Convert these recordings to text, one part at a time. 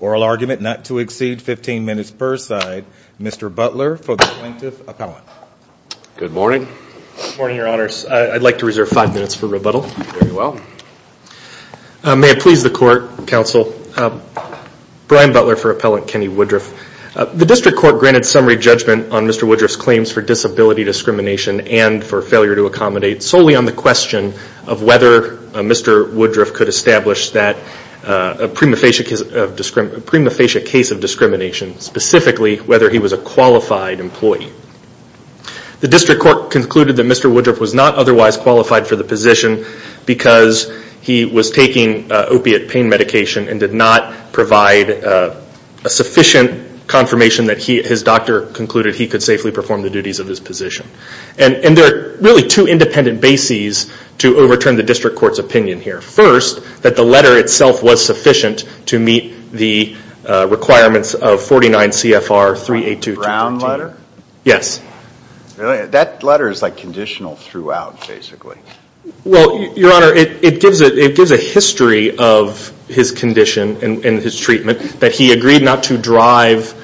Oral argument not to exceed 15 minutes per side. Mr. Butler for the Plaintiff's Appellant. Good morning. Good morning, your honors. I'd like to reserve five minutes for rebuttal. Very well. May it please the court, counsel, Brian Butler for Appellant Kenny Woodruff. The District Court granted summary judgment on Mr. Woodruff's claims for disability discrimination and for failure to accommodate solely on the question of whether Mr. Woodruff could establish that a prima facie case of discrimination, specifically whether he was a qualified employee. The District Court concluded that Mr. Woodruff was not otherwise qualified for the position because he was taking opiate pain medication and did not provide a sufficient confirmation that his doctor concluded he could safely perform the duties of his position. And there are really two independent bases to overturn the District Court's opinion here. First, that the letter itself was sufficient to meet the requirements of 49 CFR 382. Brown letter? Yes. That letter is like conditional throughout, basically. Well, your honor, it gives a history of his condition and his treatment that he agreed not to drive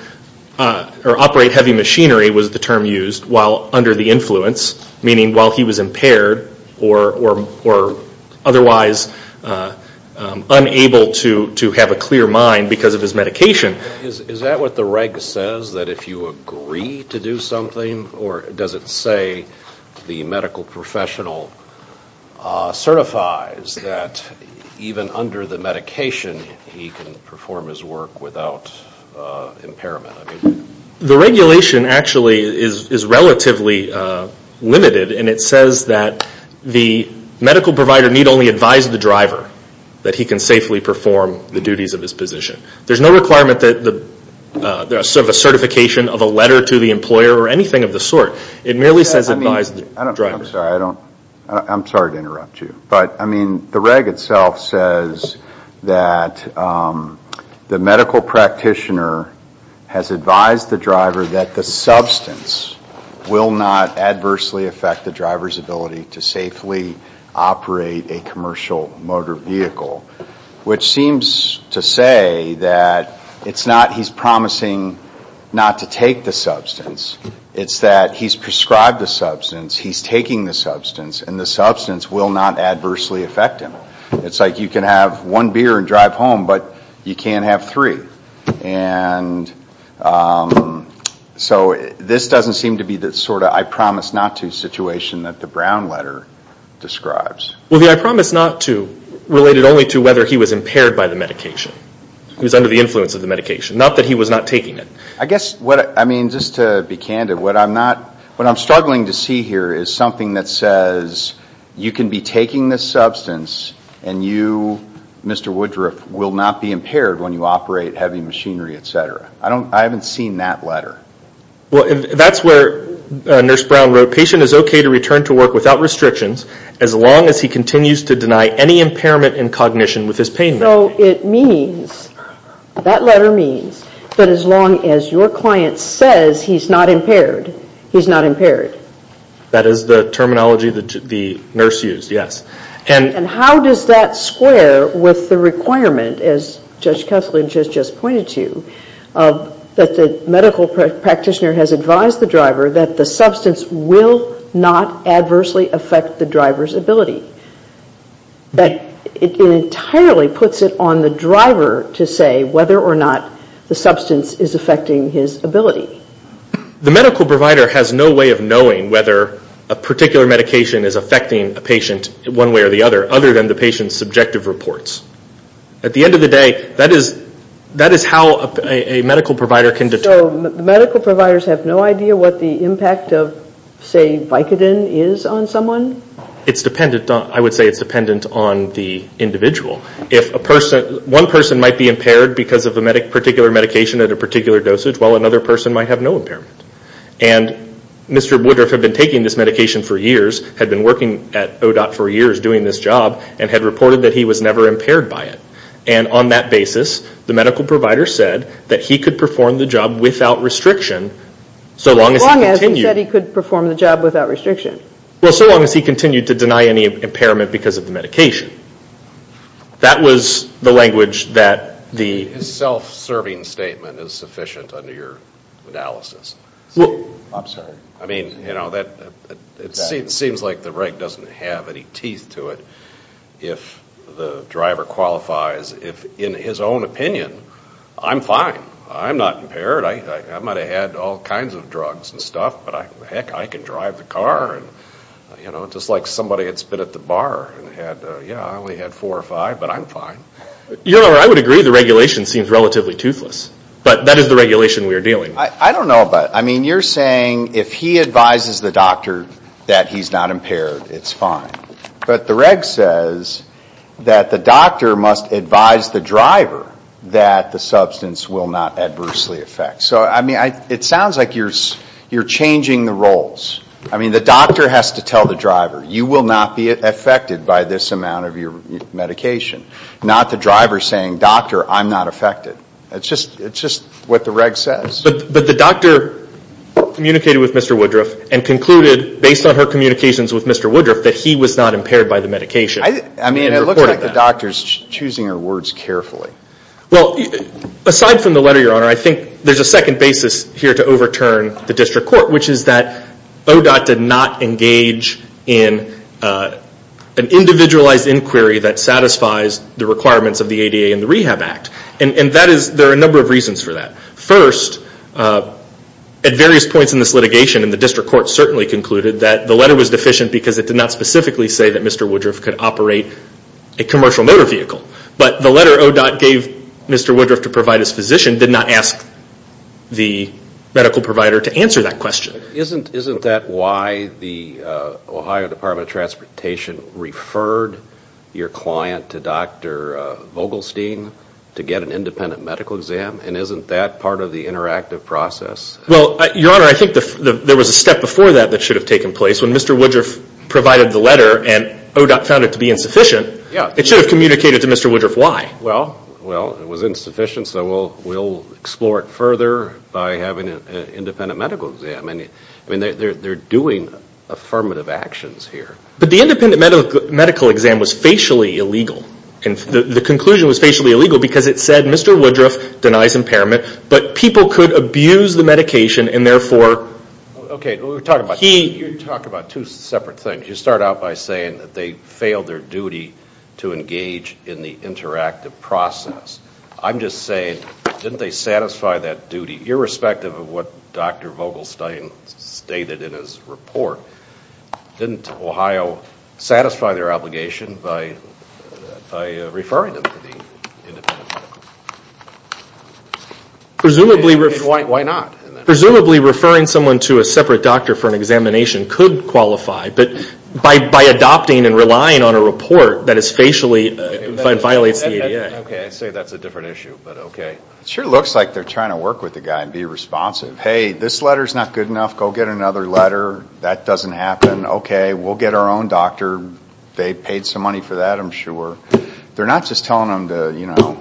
or operate heavy machinery was the term used while under the influence, meaning while he was impaired or otherwise unable to have a clear mind because of his medication. Is that what the reg says, that if you agree to do something or does it say the medical professional certifies that even under the medication he can perform his work without impairment? The regulation actually is relatively limited and it says that the medical provider need only advise the driver that he can safely perform the duties of his position. There's no requirement of a certification of a letter to the employer or anything of the sort. It merely says advise the driver. I'm sorry to interrupt you, but the reg itself says that the medical practitioner has advised the driver that the substance will not adversely affect the driver's ability to safely operate a commercial motor vehicle. Which seems to say that it's not he's promising not to take the substance, it's that he's prescribed the substance, he's taking the substance and the substance will not adversely affect him. It's like you can have one beer and drive home, but you can't have three. And so this doesn't seem to be the sort of I promise not to situation that the Brown letter describes. Well, the I promise not to related only to whether he was impaired by the medication. He was under the influence of the medication. Not that he was not taking it. I guess what I mean, just to be candid, what I'm struggling to see here is something that says you can be taking this substance and you, Mr. Woodruff, will not be impaired when you operate heavy machinery, et cetera. I haven't seen that letter. Well, that's where Nurse Brown wrote, patient is okay to return to work without restrictions as long as he continues to deny any impairment in cognition with his pain. So it means, that letter means that as long as your client says he's not impaired, he's not impaired. That is the terminology that the nurse used, yes. And how does that square with the requirement, as Judge Kessler just pointed to, that the medical practitioner has advised the driver that the substance will not adversely affect the driver's ability? That it entirely puts it on the driver to say whether or not the substance is affecting his ability. The medical provider has no way of knowing whether a particular medication is affecting a patient one way or the other, other than the patient's subjective reports. At the end of the day, that is how a medical provider can determine. So the medical providers have no idea what the impact of, say, Vicodin is on someone? It's dependent on, I would say it's dependent on the individual. If a person, one person might be impaired because of a particular medication at a particular dosage, while another person might have no impairment. And Mr. Woodruff had been taking this medication for years, had been working at ODOT for years doing this job, and had reported that he was never impaired by it. And on that basis, the medical provider said that he could perform the job without restriction, so long as he continued. As long as he said he could perform the job without restriction. Well, so long as he continued to deny any impairment because of the medication. That was the language that the. His self-serving statement is sufficient under your analysis. I'm sorry. I mean, you know, it seems like the reg doesn't have any teeth to it. If the driver qualifies, if in his own opinion, I'm fine. I'm not impaired. I might have had all kinds of drugs and stuff, but heck, I can drive the car. You know, just like somebody had spit at the bar and had, yeah, I only had four or five, but I'm fine. You know, I would agree the regulation seems relatively toothless. But that is the regulation we are dealing. I don't know about. I mean, you're saying if he advises the doctor that he's not impaired, it's fine. But the reg says that the doctor must advise the driver that the substance will not adversely affect. So, I mean, it sounds like you're changing the roles. I mean, the doctor has to tell the driver, you will not be affected by this amount of your medication. Not the driver saying, doctor, I'm not affected. It's just what the reg says. But the doctor communicated with Mr. Woodruff and concluded, based on her communications with Mr. Woodruff, that he was not impaired by the medication. I mean, it looks like the doctor's choosing her words carefully. Well, aside from the letter, your honor, I think there's a second basis here to overturn the district court, which is that ODOT did not engage in an individualized inquiry that satisfies the requirements of the ADA and the Rehab Act. And that is, there are a number of reasons for that. First, at various points in this litigation, and the district court certainly concluded that the letter was deficient because it did not specifically say that Mr. Woodruff could operate a commercial motor vehicle. But the letter ODOT gave Mr. Woodruff to provide his physician did not ask the medical provider to answer that question. Isn't that why the Ohio Department of Transportation referred your client to Dr. Vogelstein to get an independent medical exam? And isn't that part of the interactive process? Well, your honor, I think there was a step before that that should have taken place. When Mr. Woodruff provided the letter and ODOT found it to be insufficient, it should have communicated to Mr. Woodruff why. Well, it was insufficient, so we'll explore it further by having an independent medical exam. I mean, they're doing affirmative actions here. But the independent medical exam was facially illegal. And the conclusion was facially illegal because it said Mr. Woodruff denies impairment, but people could abuse the medication and therefore... Okay, you're talking about two separate things. You start out by saying that they failed their duty to engage in the interactive process. I'm just saying, didn't they satisfy that duty, irrespective of what Dr. Vogelstein stated in his report? Didn't Ohio satisfy their obligation by referring them to the independent medical exam? Presumably referring someone to a separate doctor for an examination could qualify, but by adopting and relying on a report that is facially... and violates the ADA. Okay, I say that's a different issue, but okay. It sure looks like they're trying to work with the guy and be responsive. Hey, this letter's not good enough. Go get another letter. That doesn't happen. Okay, we'll get our own doctor. They paid some money for that, I'm sure. They're not just telling them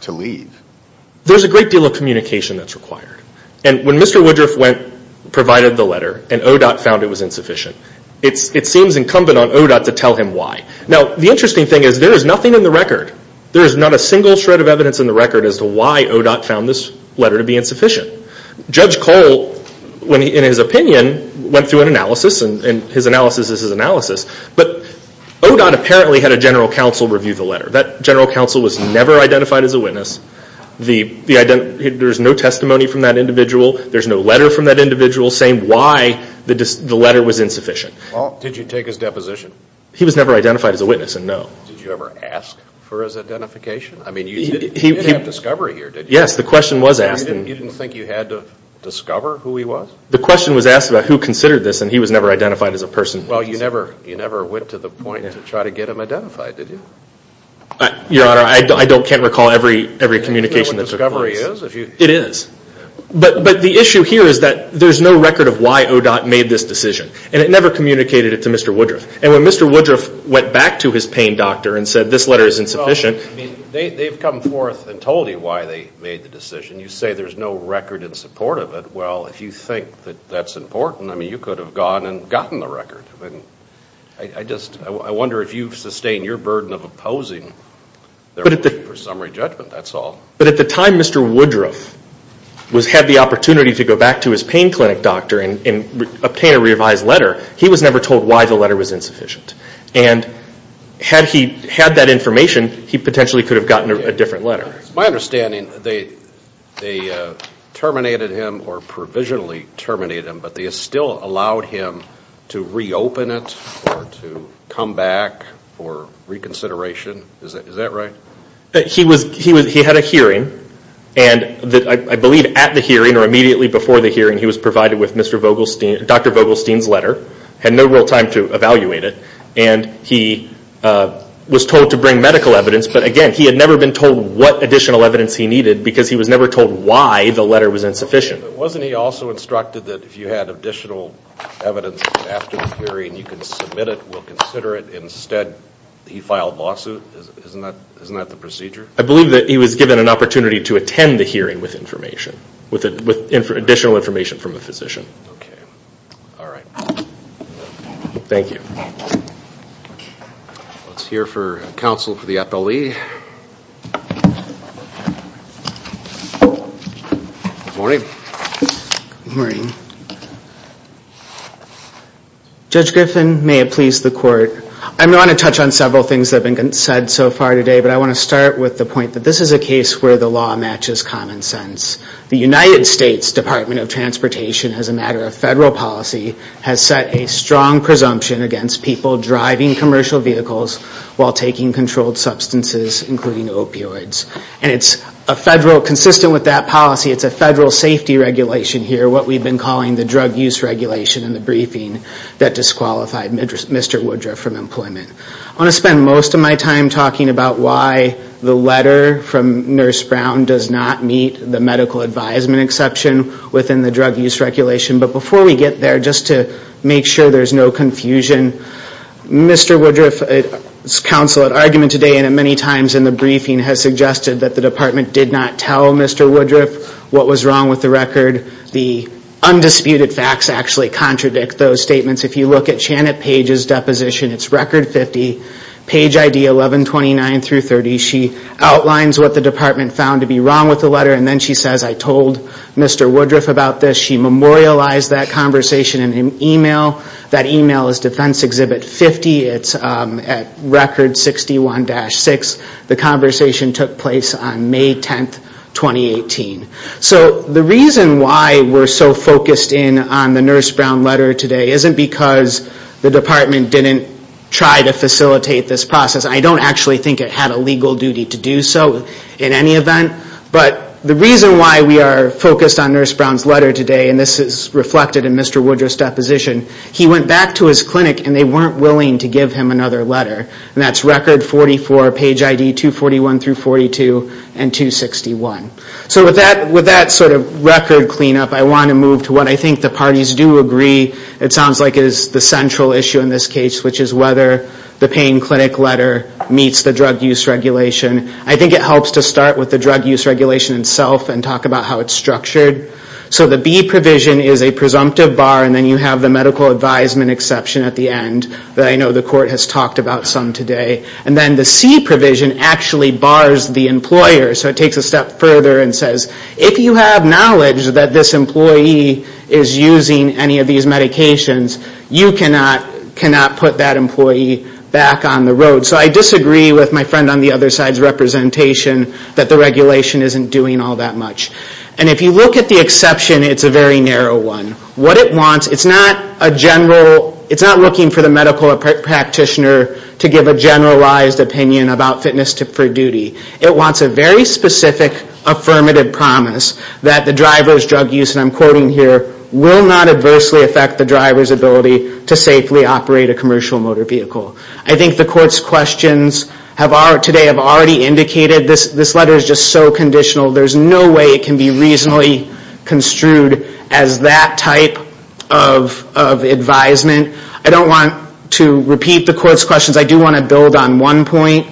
to leave. There's a great deal of communication that's required. And when Mr. Woodruff provided the letter and ODOT found it was insufficient, it seems incumbent on ODOT to tell him why. Now, the interesting thing is there is nothing in the record. There is not a single shred of evidence in the record as to why ODOT found this letter to be insufficient. Judge Cole, in his opinion, went through an analysis, and his analysis is his analysis. But ODOT apparently had a general counsel review the letter. That general counsel was never identified as a witness. There's no testimony from that individual. There's no letter from that individual saying why the letter was insufficient. Well, did you take his deposition? He was never identified as a witness, and no. Did you ever ask for his identification? I mean, you did have discovery here, did you? Yes, the question was asked. You didn't think you had to discover who he was? The question was asked about who considered this, and he was never identified as a person. Well, you never went to the point to try to get him identified, did you? Your Honor, I can't recall every communication that took place. Do you know what discovery is? It is. But the issue here is that there's no record of why ODOT made this decision, and it never communicated it to Mr. Woodruff. And when Mr. Woodruff went back to his pain doctor and said, this letter is insufficient. They've come forth and told you why they made the decision. You say there's no record in support of it. Well, if you think that that's important, I mean, you could have gone and gotten the record. I mean, I just, I wonder if you've sustained your burden of opposing their wish for summary judgment, that's all. But at the time Mr. Woodruff had the opportunity to go back to his pain clinic doctor and obtain a revised letter, he was never told why the letter was insufficient. And had he had that information, he potentially could have gotten a different letter. My understanding, they terminated him or provisionally terminated him, but they still allowed him to reopen it or to come back for reconsideration. Is that right? He had a hearing. And I believe at the hearing or immediately before the hearing, he was provided with Dr. Vogelstein's letter. Had no real time to evaluate it. And he was told to bring medical evidence. But again, he had never been told what additional evidence he needed because he was never told why the letter was insufficient. Wasn't he also instructed that if you had additional evidence after the hearing, you can submit it, we'll consider it. Instead, he filed lawsuit. Isn't that the procedure? I believe that he was given an opportunity to attend the hearing with information, with additional information from a physician. Okay. All right. Thank you. Let's hear for counsel for the appellee. Good morning. Good morning. Judge Griffin, may it please the court. I'm going to touch on several things that have been said so far today, but I want to start with the point that this is a case where the law matches common sense. The United States Department of Transportation, as a matter of federal policy, has set a strong presumption against people driving commercial vehicles while taking controlled substances, including opioids. And it's a federal, consistent with that policy, it's a federal safety regulation here, what we've been calling the drug use regulation in the briefing that disqualified Mr. Woodruff from employment. I want to spend most of my time talking about why the letter from Nurse Brown does not meet the medical advisement exception within the drug use regulation. But before we get there, just to make sure there's no confusion, Mr. Woodruff's counsel at argument today and at many times in the briefing has suggested that the department did not tell Mr. Woodruff what was wrong with the record. The undisputed facts actually contradict those statements. If you look at Janet Page's deposition, it's record 50, page ID 1129 through 30. She outlines what the department found to be wrong with the letter, and then she says, I told Mr. Woodruff about this. She memorialized that conversation in an email. That email is Defense Exhibit 50. It's at record 61-6. The conversation took place on May 10, 2018. So the reason why we're so focused in on the Nurse Brown letter today isn't because the department didn't try to facilitate this process. I don't actually think it had a legal duty to do so in any event. But the reason why we are focused on Nurse Brown's letter today, and this is reflected in Mr. Woodruff's deposition, he went back to his clinic and they weren't willing to give him another letter. And that's record 44, page ID 241 through 42 and 261. So with that sort of record cleanup, I want to move to what I think the parties do agree. It sounds like it is the central issue in this case, which is whether the Payne Clinic letter meets the drug use regulation. I think it helps to start with the drug use regulation itself and talk about how it's structured. So the B provision is a presumptive bar, and then you have the medical advisement exception at the end that I know the court has talked about some today. And then the C provision actually bars the employer. So it takes a step further and says, if you have knowledge that this employee is using any of these medications, you cannot put that employee back on the road. So I disagree with my friend on the other side's representation that the regulation isn't doing all that much. And if you look at the exception, it's a very narrow one. What it wants, it's not a general, it's not looking for the medical practitioner to give a generalized opinion about fitness for duty. It wants a very specific affirmative promise that the driver's drug use, and I'm quoting here, will not adversely affect the driver's ability to safely operate a commercial motor vehicle. I think the court's questions today have already indicated this letter is just so conditional. There's no way it can be reasonably construed as that type of advisement. I don't want to repeat the court's questions. I do want to build on one point,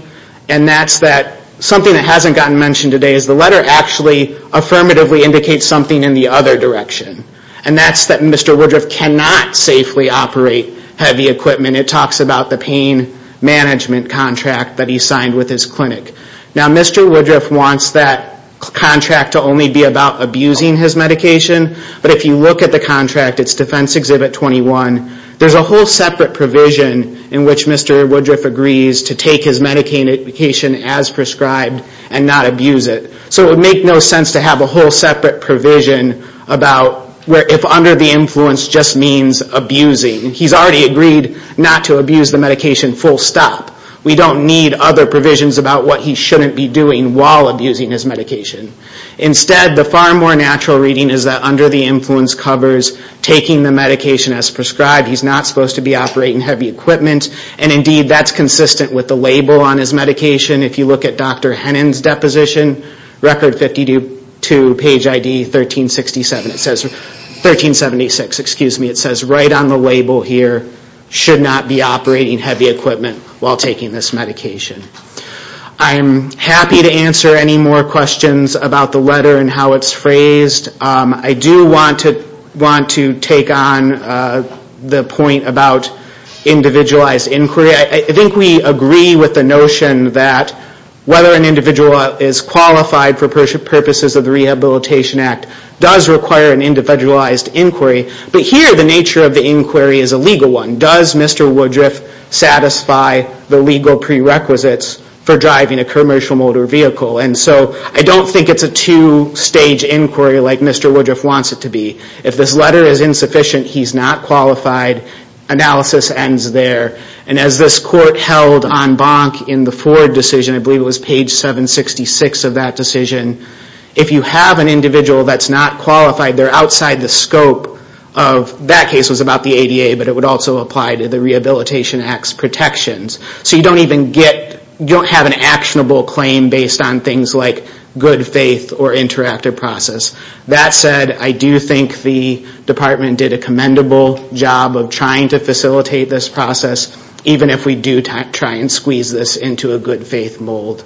and that's that something that hasn't gotten mentioned today is the letter actually affirmatively indicates something in the other direction, and that's that Mr. Woodruff cannot safely operate heavy equipment. It talks about the pain management contract that he signed with his clinic. Now, Mr. Woodruff wants that contract to only be about abusing his medication, but if you look at the contract, it's Defense Exhibit 21, there's a whole separate provision in which Mr. Woodruff agrees to take his medication as prescribed and not abuse it. So it would make no sense to have a whole separate provision about if under the influence just means abusing. He's already agreed not to abuse the medication full stop. We don't need other provisions about what he shouldn't be doing while abusing his medication. Instead, the far more natural reading is that under the influence covers taking the medication as prescribed. He's not supposed to be operating heavy equipment, and indeed that's consistent with the label on his medication. If you look at Dr. Hennon's deposition, Record 52, page ID 1376, it says right on the label here, should not be operating heavy equipment while taking this medication. I'm happy to answer any more questions about the letter and how it's phrased. I do want to take on the point about individualized inquiry. I think we agree with the notion that whether an individual is qualified for purposes of the Rehabilitation Act does require an individualized inquiry. But here the nature of the inquiry is a legal one. Does Mr. Woodruff satisfy the legal prerequisites for driving a commercial motor vehicle? And so I don't think it's a two-stage inquiry like Mr. Woodruff wants it to be. If this letter is insufficient, he's not qualified. Analysis ends there. And as this court held en banc in the Ford decision, I believe it was page 766 of that decision, if you have an individual that's not qualified, they're outside the scope of, that case was about the ADA, but it would also apply to the Rehabilitation Act's protections. So you don't even get, you don't have an actionable claim based on things like good faith or interactive process. That said, I do think the department did a commendable job of trying to facilitate this process, even if we do try and squeeze this into a good faith mold.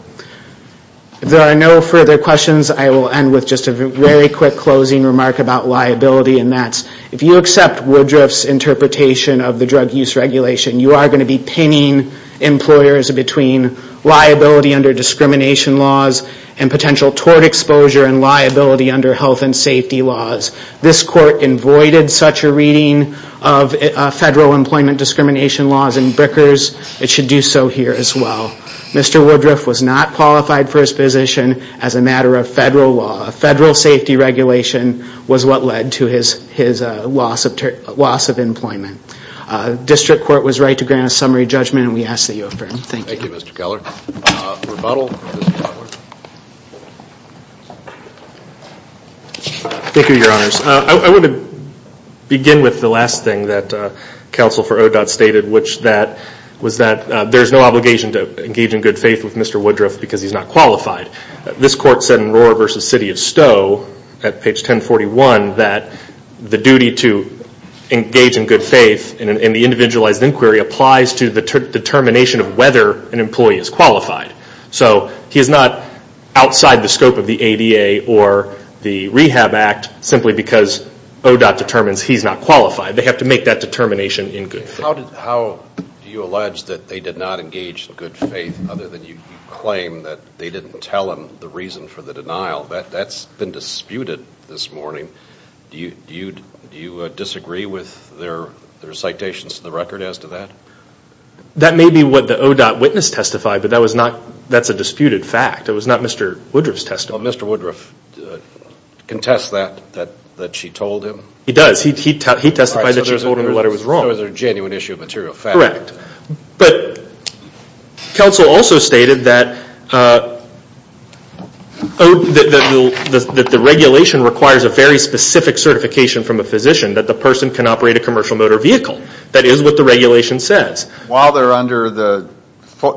If there are no further questions, I will end with just a very quick closing remark about liability, and that's if you accept Woodruff's interpretation of the drug use regulation, you are going to be pinning employers between liability under discrimination laws and potential tort exposure and liability under health and safety laws. This court avoided such a reading of federal employment discrimination laws in Brickers, it should do so here as well. Mr. Woodruff was not qualified for his position as a matter of federal law. Federal safety regulation was what led to his loss of employment. District Court was ready to grant a summary judgment and we ask that you affirm. Thank you. Thank you, Mr. Keller. Rebuttal? Thank you, Your Honors. I want to begin with the last thing that Counsel for ODOT stated, which was that there's no obligation to engage in good faith with Mr. Woodruff because he's not qualified. This court said in Rohrer v. City of Stowe at page 1041 that the duty to engage in good faith in an individualized inquiry applies to the determination of whether an employee is qualified. So he is not outside the scope of the ADA or the Rehab Act simply because ODOT determines he's not qualified. They have to make that determination in good faith. How do you allege that they did not engage in good faith other than you claim that they didn't tell him the reason for the denial? That's been disputed this morning. Do you disagree with their citations to the record as to that? That may be what the ODOT witness testified, but that's a disputed fact. It was not Mr. Woodruff's testimony. Does Mr. Woodruff contest that she told him? He does. He testified that she told him the letter was wrong. So it was a genuine issue of material fact. Counsel also stated that the regulation requires a very specific certification from a physician that the person can operate a commercial motor vehicle. That is what the regulation says. While they're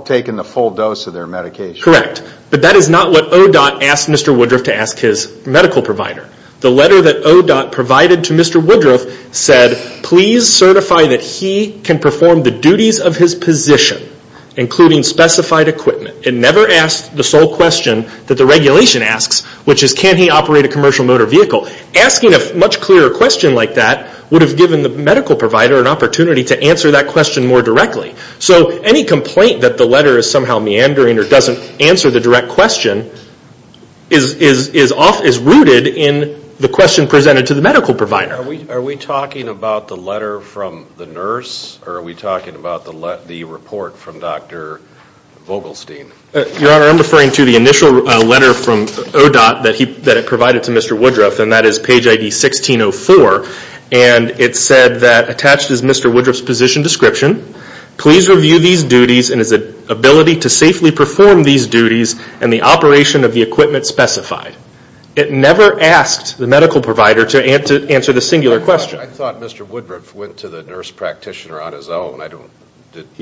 taking the full dose of their medication. Correct. But that is not what ODOT asked Mr. Woodruff to ask his medical provider. The letter that ODOT provided to Mr. Woodruff said please certify that he can perform the duties of his position including specified equipment. It never asked the sole question that the regulation asks which is can he operate a commercial motor vehicle. Asking a much clearer question like that would have given the medical provider an opportunity to answer that question more directly. So any complaint that the letter is somehow meandering or doesn't answer the direct question is rooted in the question presented to the medical provider. Are we talking about the letter from the nurse or are we talking about the report from Dr. Vogelstein? Your Honor, I'm referring to the initial letter from ODOT that it provided to Mr. Woodruff and that is page ID 1604. It said that attached is Mr. Woodruff's position description please review these duties and his ability to safely perform these duties and the operation of the equipment specified. It never asked the medical provider to answer the singular question. I thought Mr. Woodruff went to the nurse practitioner on his own.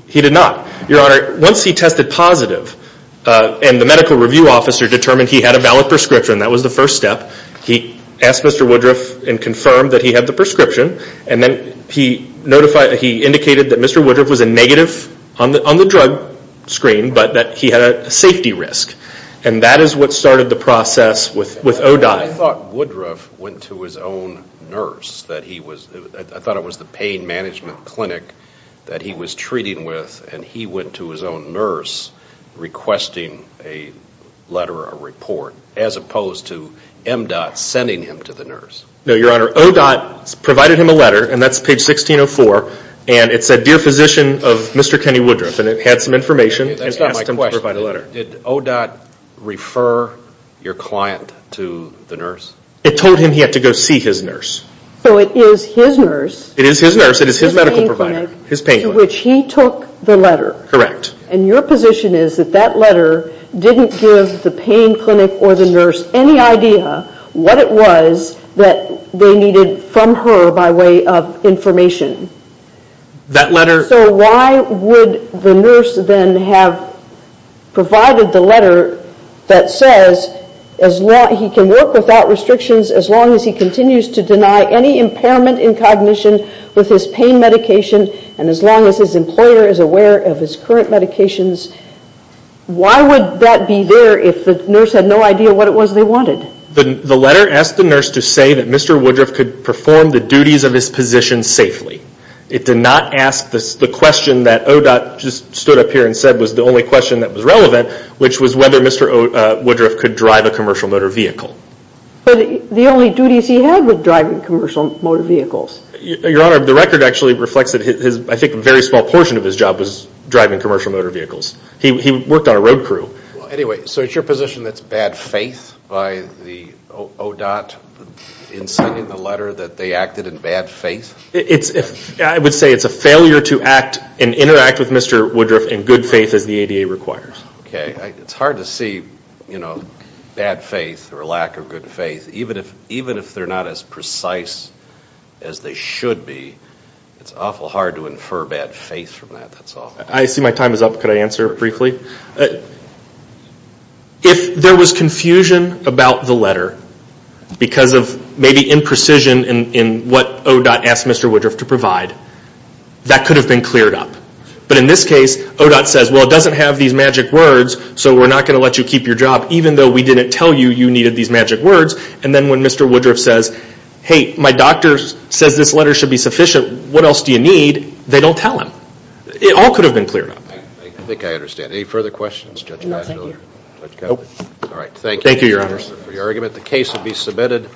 He did not. Once he tested positive and the medical review officer determined he had a valid prescription, that was the first step. He asked Mr. Woodruff and confirmed that he had the prescription and then he indicated that Mr. Woodruff was a negative on the drug screen but that he had a safety risk. That is what started the process with ODOT. I thought Woodruff went to his own nurse. I thought it was the pain management clinic that he was treating with and he went to his own nurse requesting a letter or a report as opposed to MDOT sending him to the nurse. No, your honor, ODOT provided him a letter and that's page 1604 and it said dear physician of Mr. Kenny Woodruff and it had some information and asked him to provide a letter. Did ODOT refer your client to the nurse? It told him he had to go see his nurse. So it is his nurse, his pain clinic, to which he took the letter. And your position is that that letter didn't give the pain clinic or the nurse any idea what it was that they needed from her by way of information. So why would the nurse then have provided the letter that says he can work without restrictions as long as he continues to deny any impairment in cognition with his pain medication and as long as his employer is aware of his current medications? Why would that be there if the nurse had no idea what it was they wanted? The letter asked the nurse to say that Mr. Woodruff could perform the duties of his position safely. It did not ask the question that ODOT just stood up here and said was the only question that was relevant which was whether Mr. Woodruff could drive a commercial motor vehicle. But the only duties he had were driving commercial motor vehicles. Your Honor, the record actually reflects that I think a very small portion of his job was driving commercial motor vehicles. He worked on a road crew. Anyway, so it is your position that it is bad faith by the ODOT in signing the letter that they acted in bad faith? I would say it is a failure to act and interact with Mr. Woodruff in good faith as the ADA requires. Okay, it is hard to see bad faith or lack of good faith even if they are not as precise as they should be. It is awful hard to infer bad faith from that. I see my time is up. Could I answer briefly? If there was confusion about the letter because of maybe imprecision in what ODOT asked Mr. Woodruff to provide that could have been cleared up. But in this case, ODOT says, well it doesn't have these magic words so we are not going to let you keep your job even though we didn't tell you you needed these magic words. And then when Mr. Woodruff says, hey, my doctor says this letter should be sufficient what else do you need? They don't tell him. It all could have been cleared up. I think I understand. Any further questions? Thank you, Your Honor.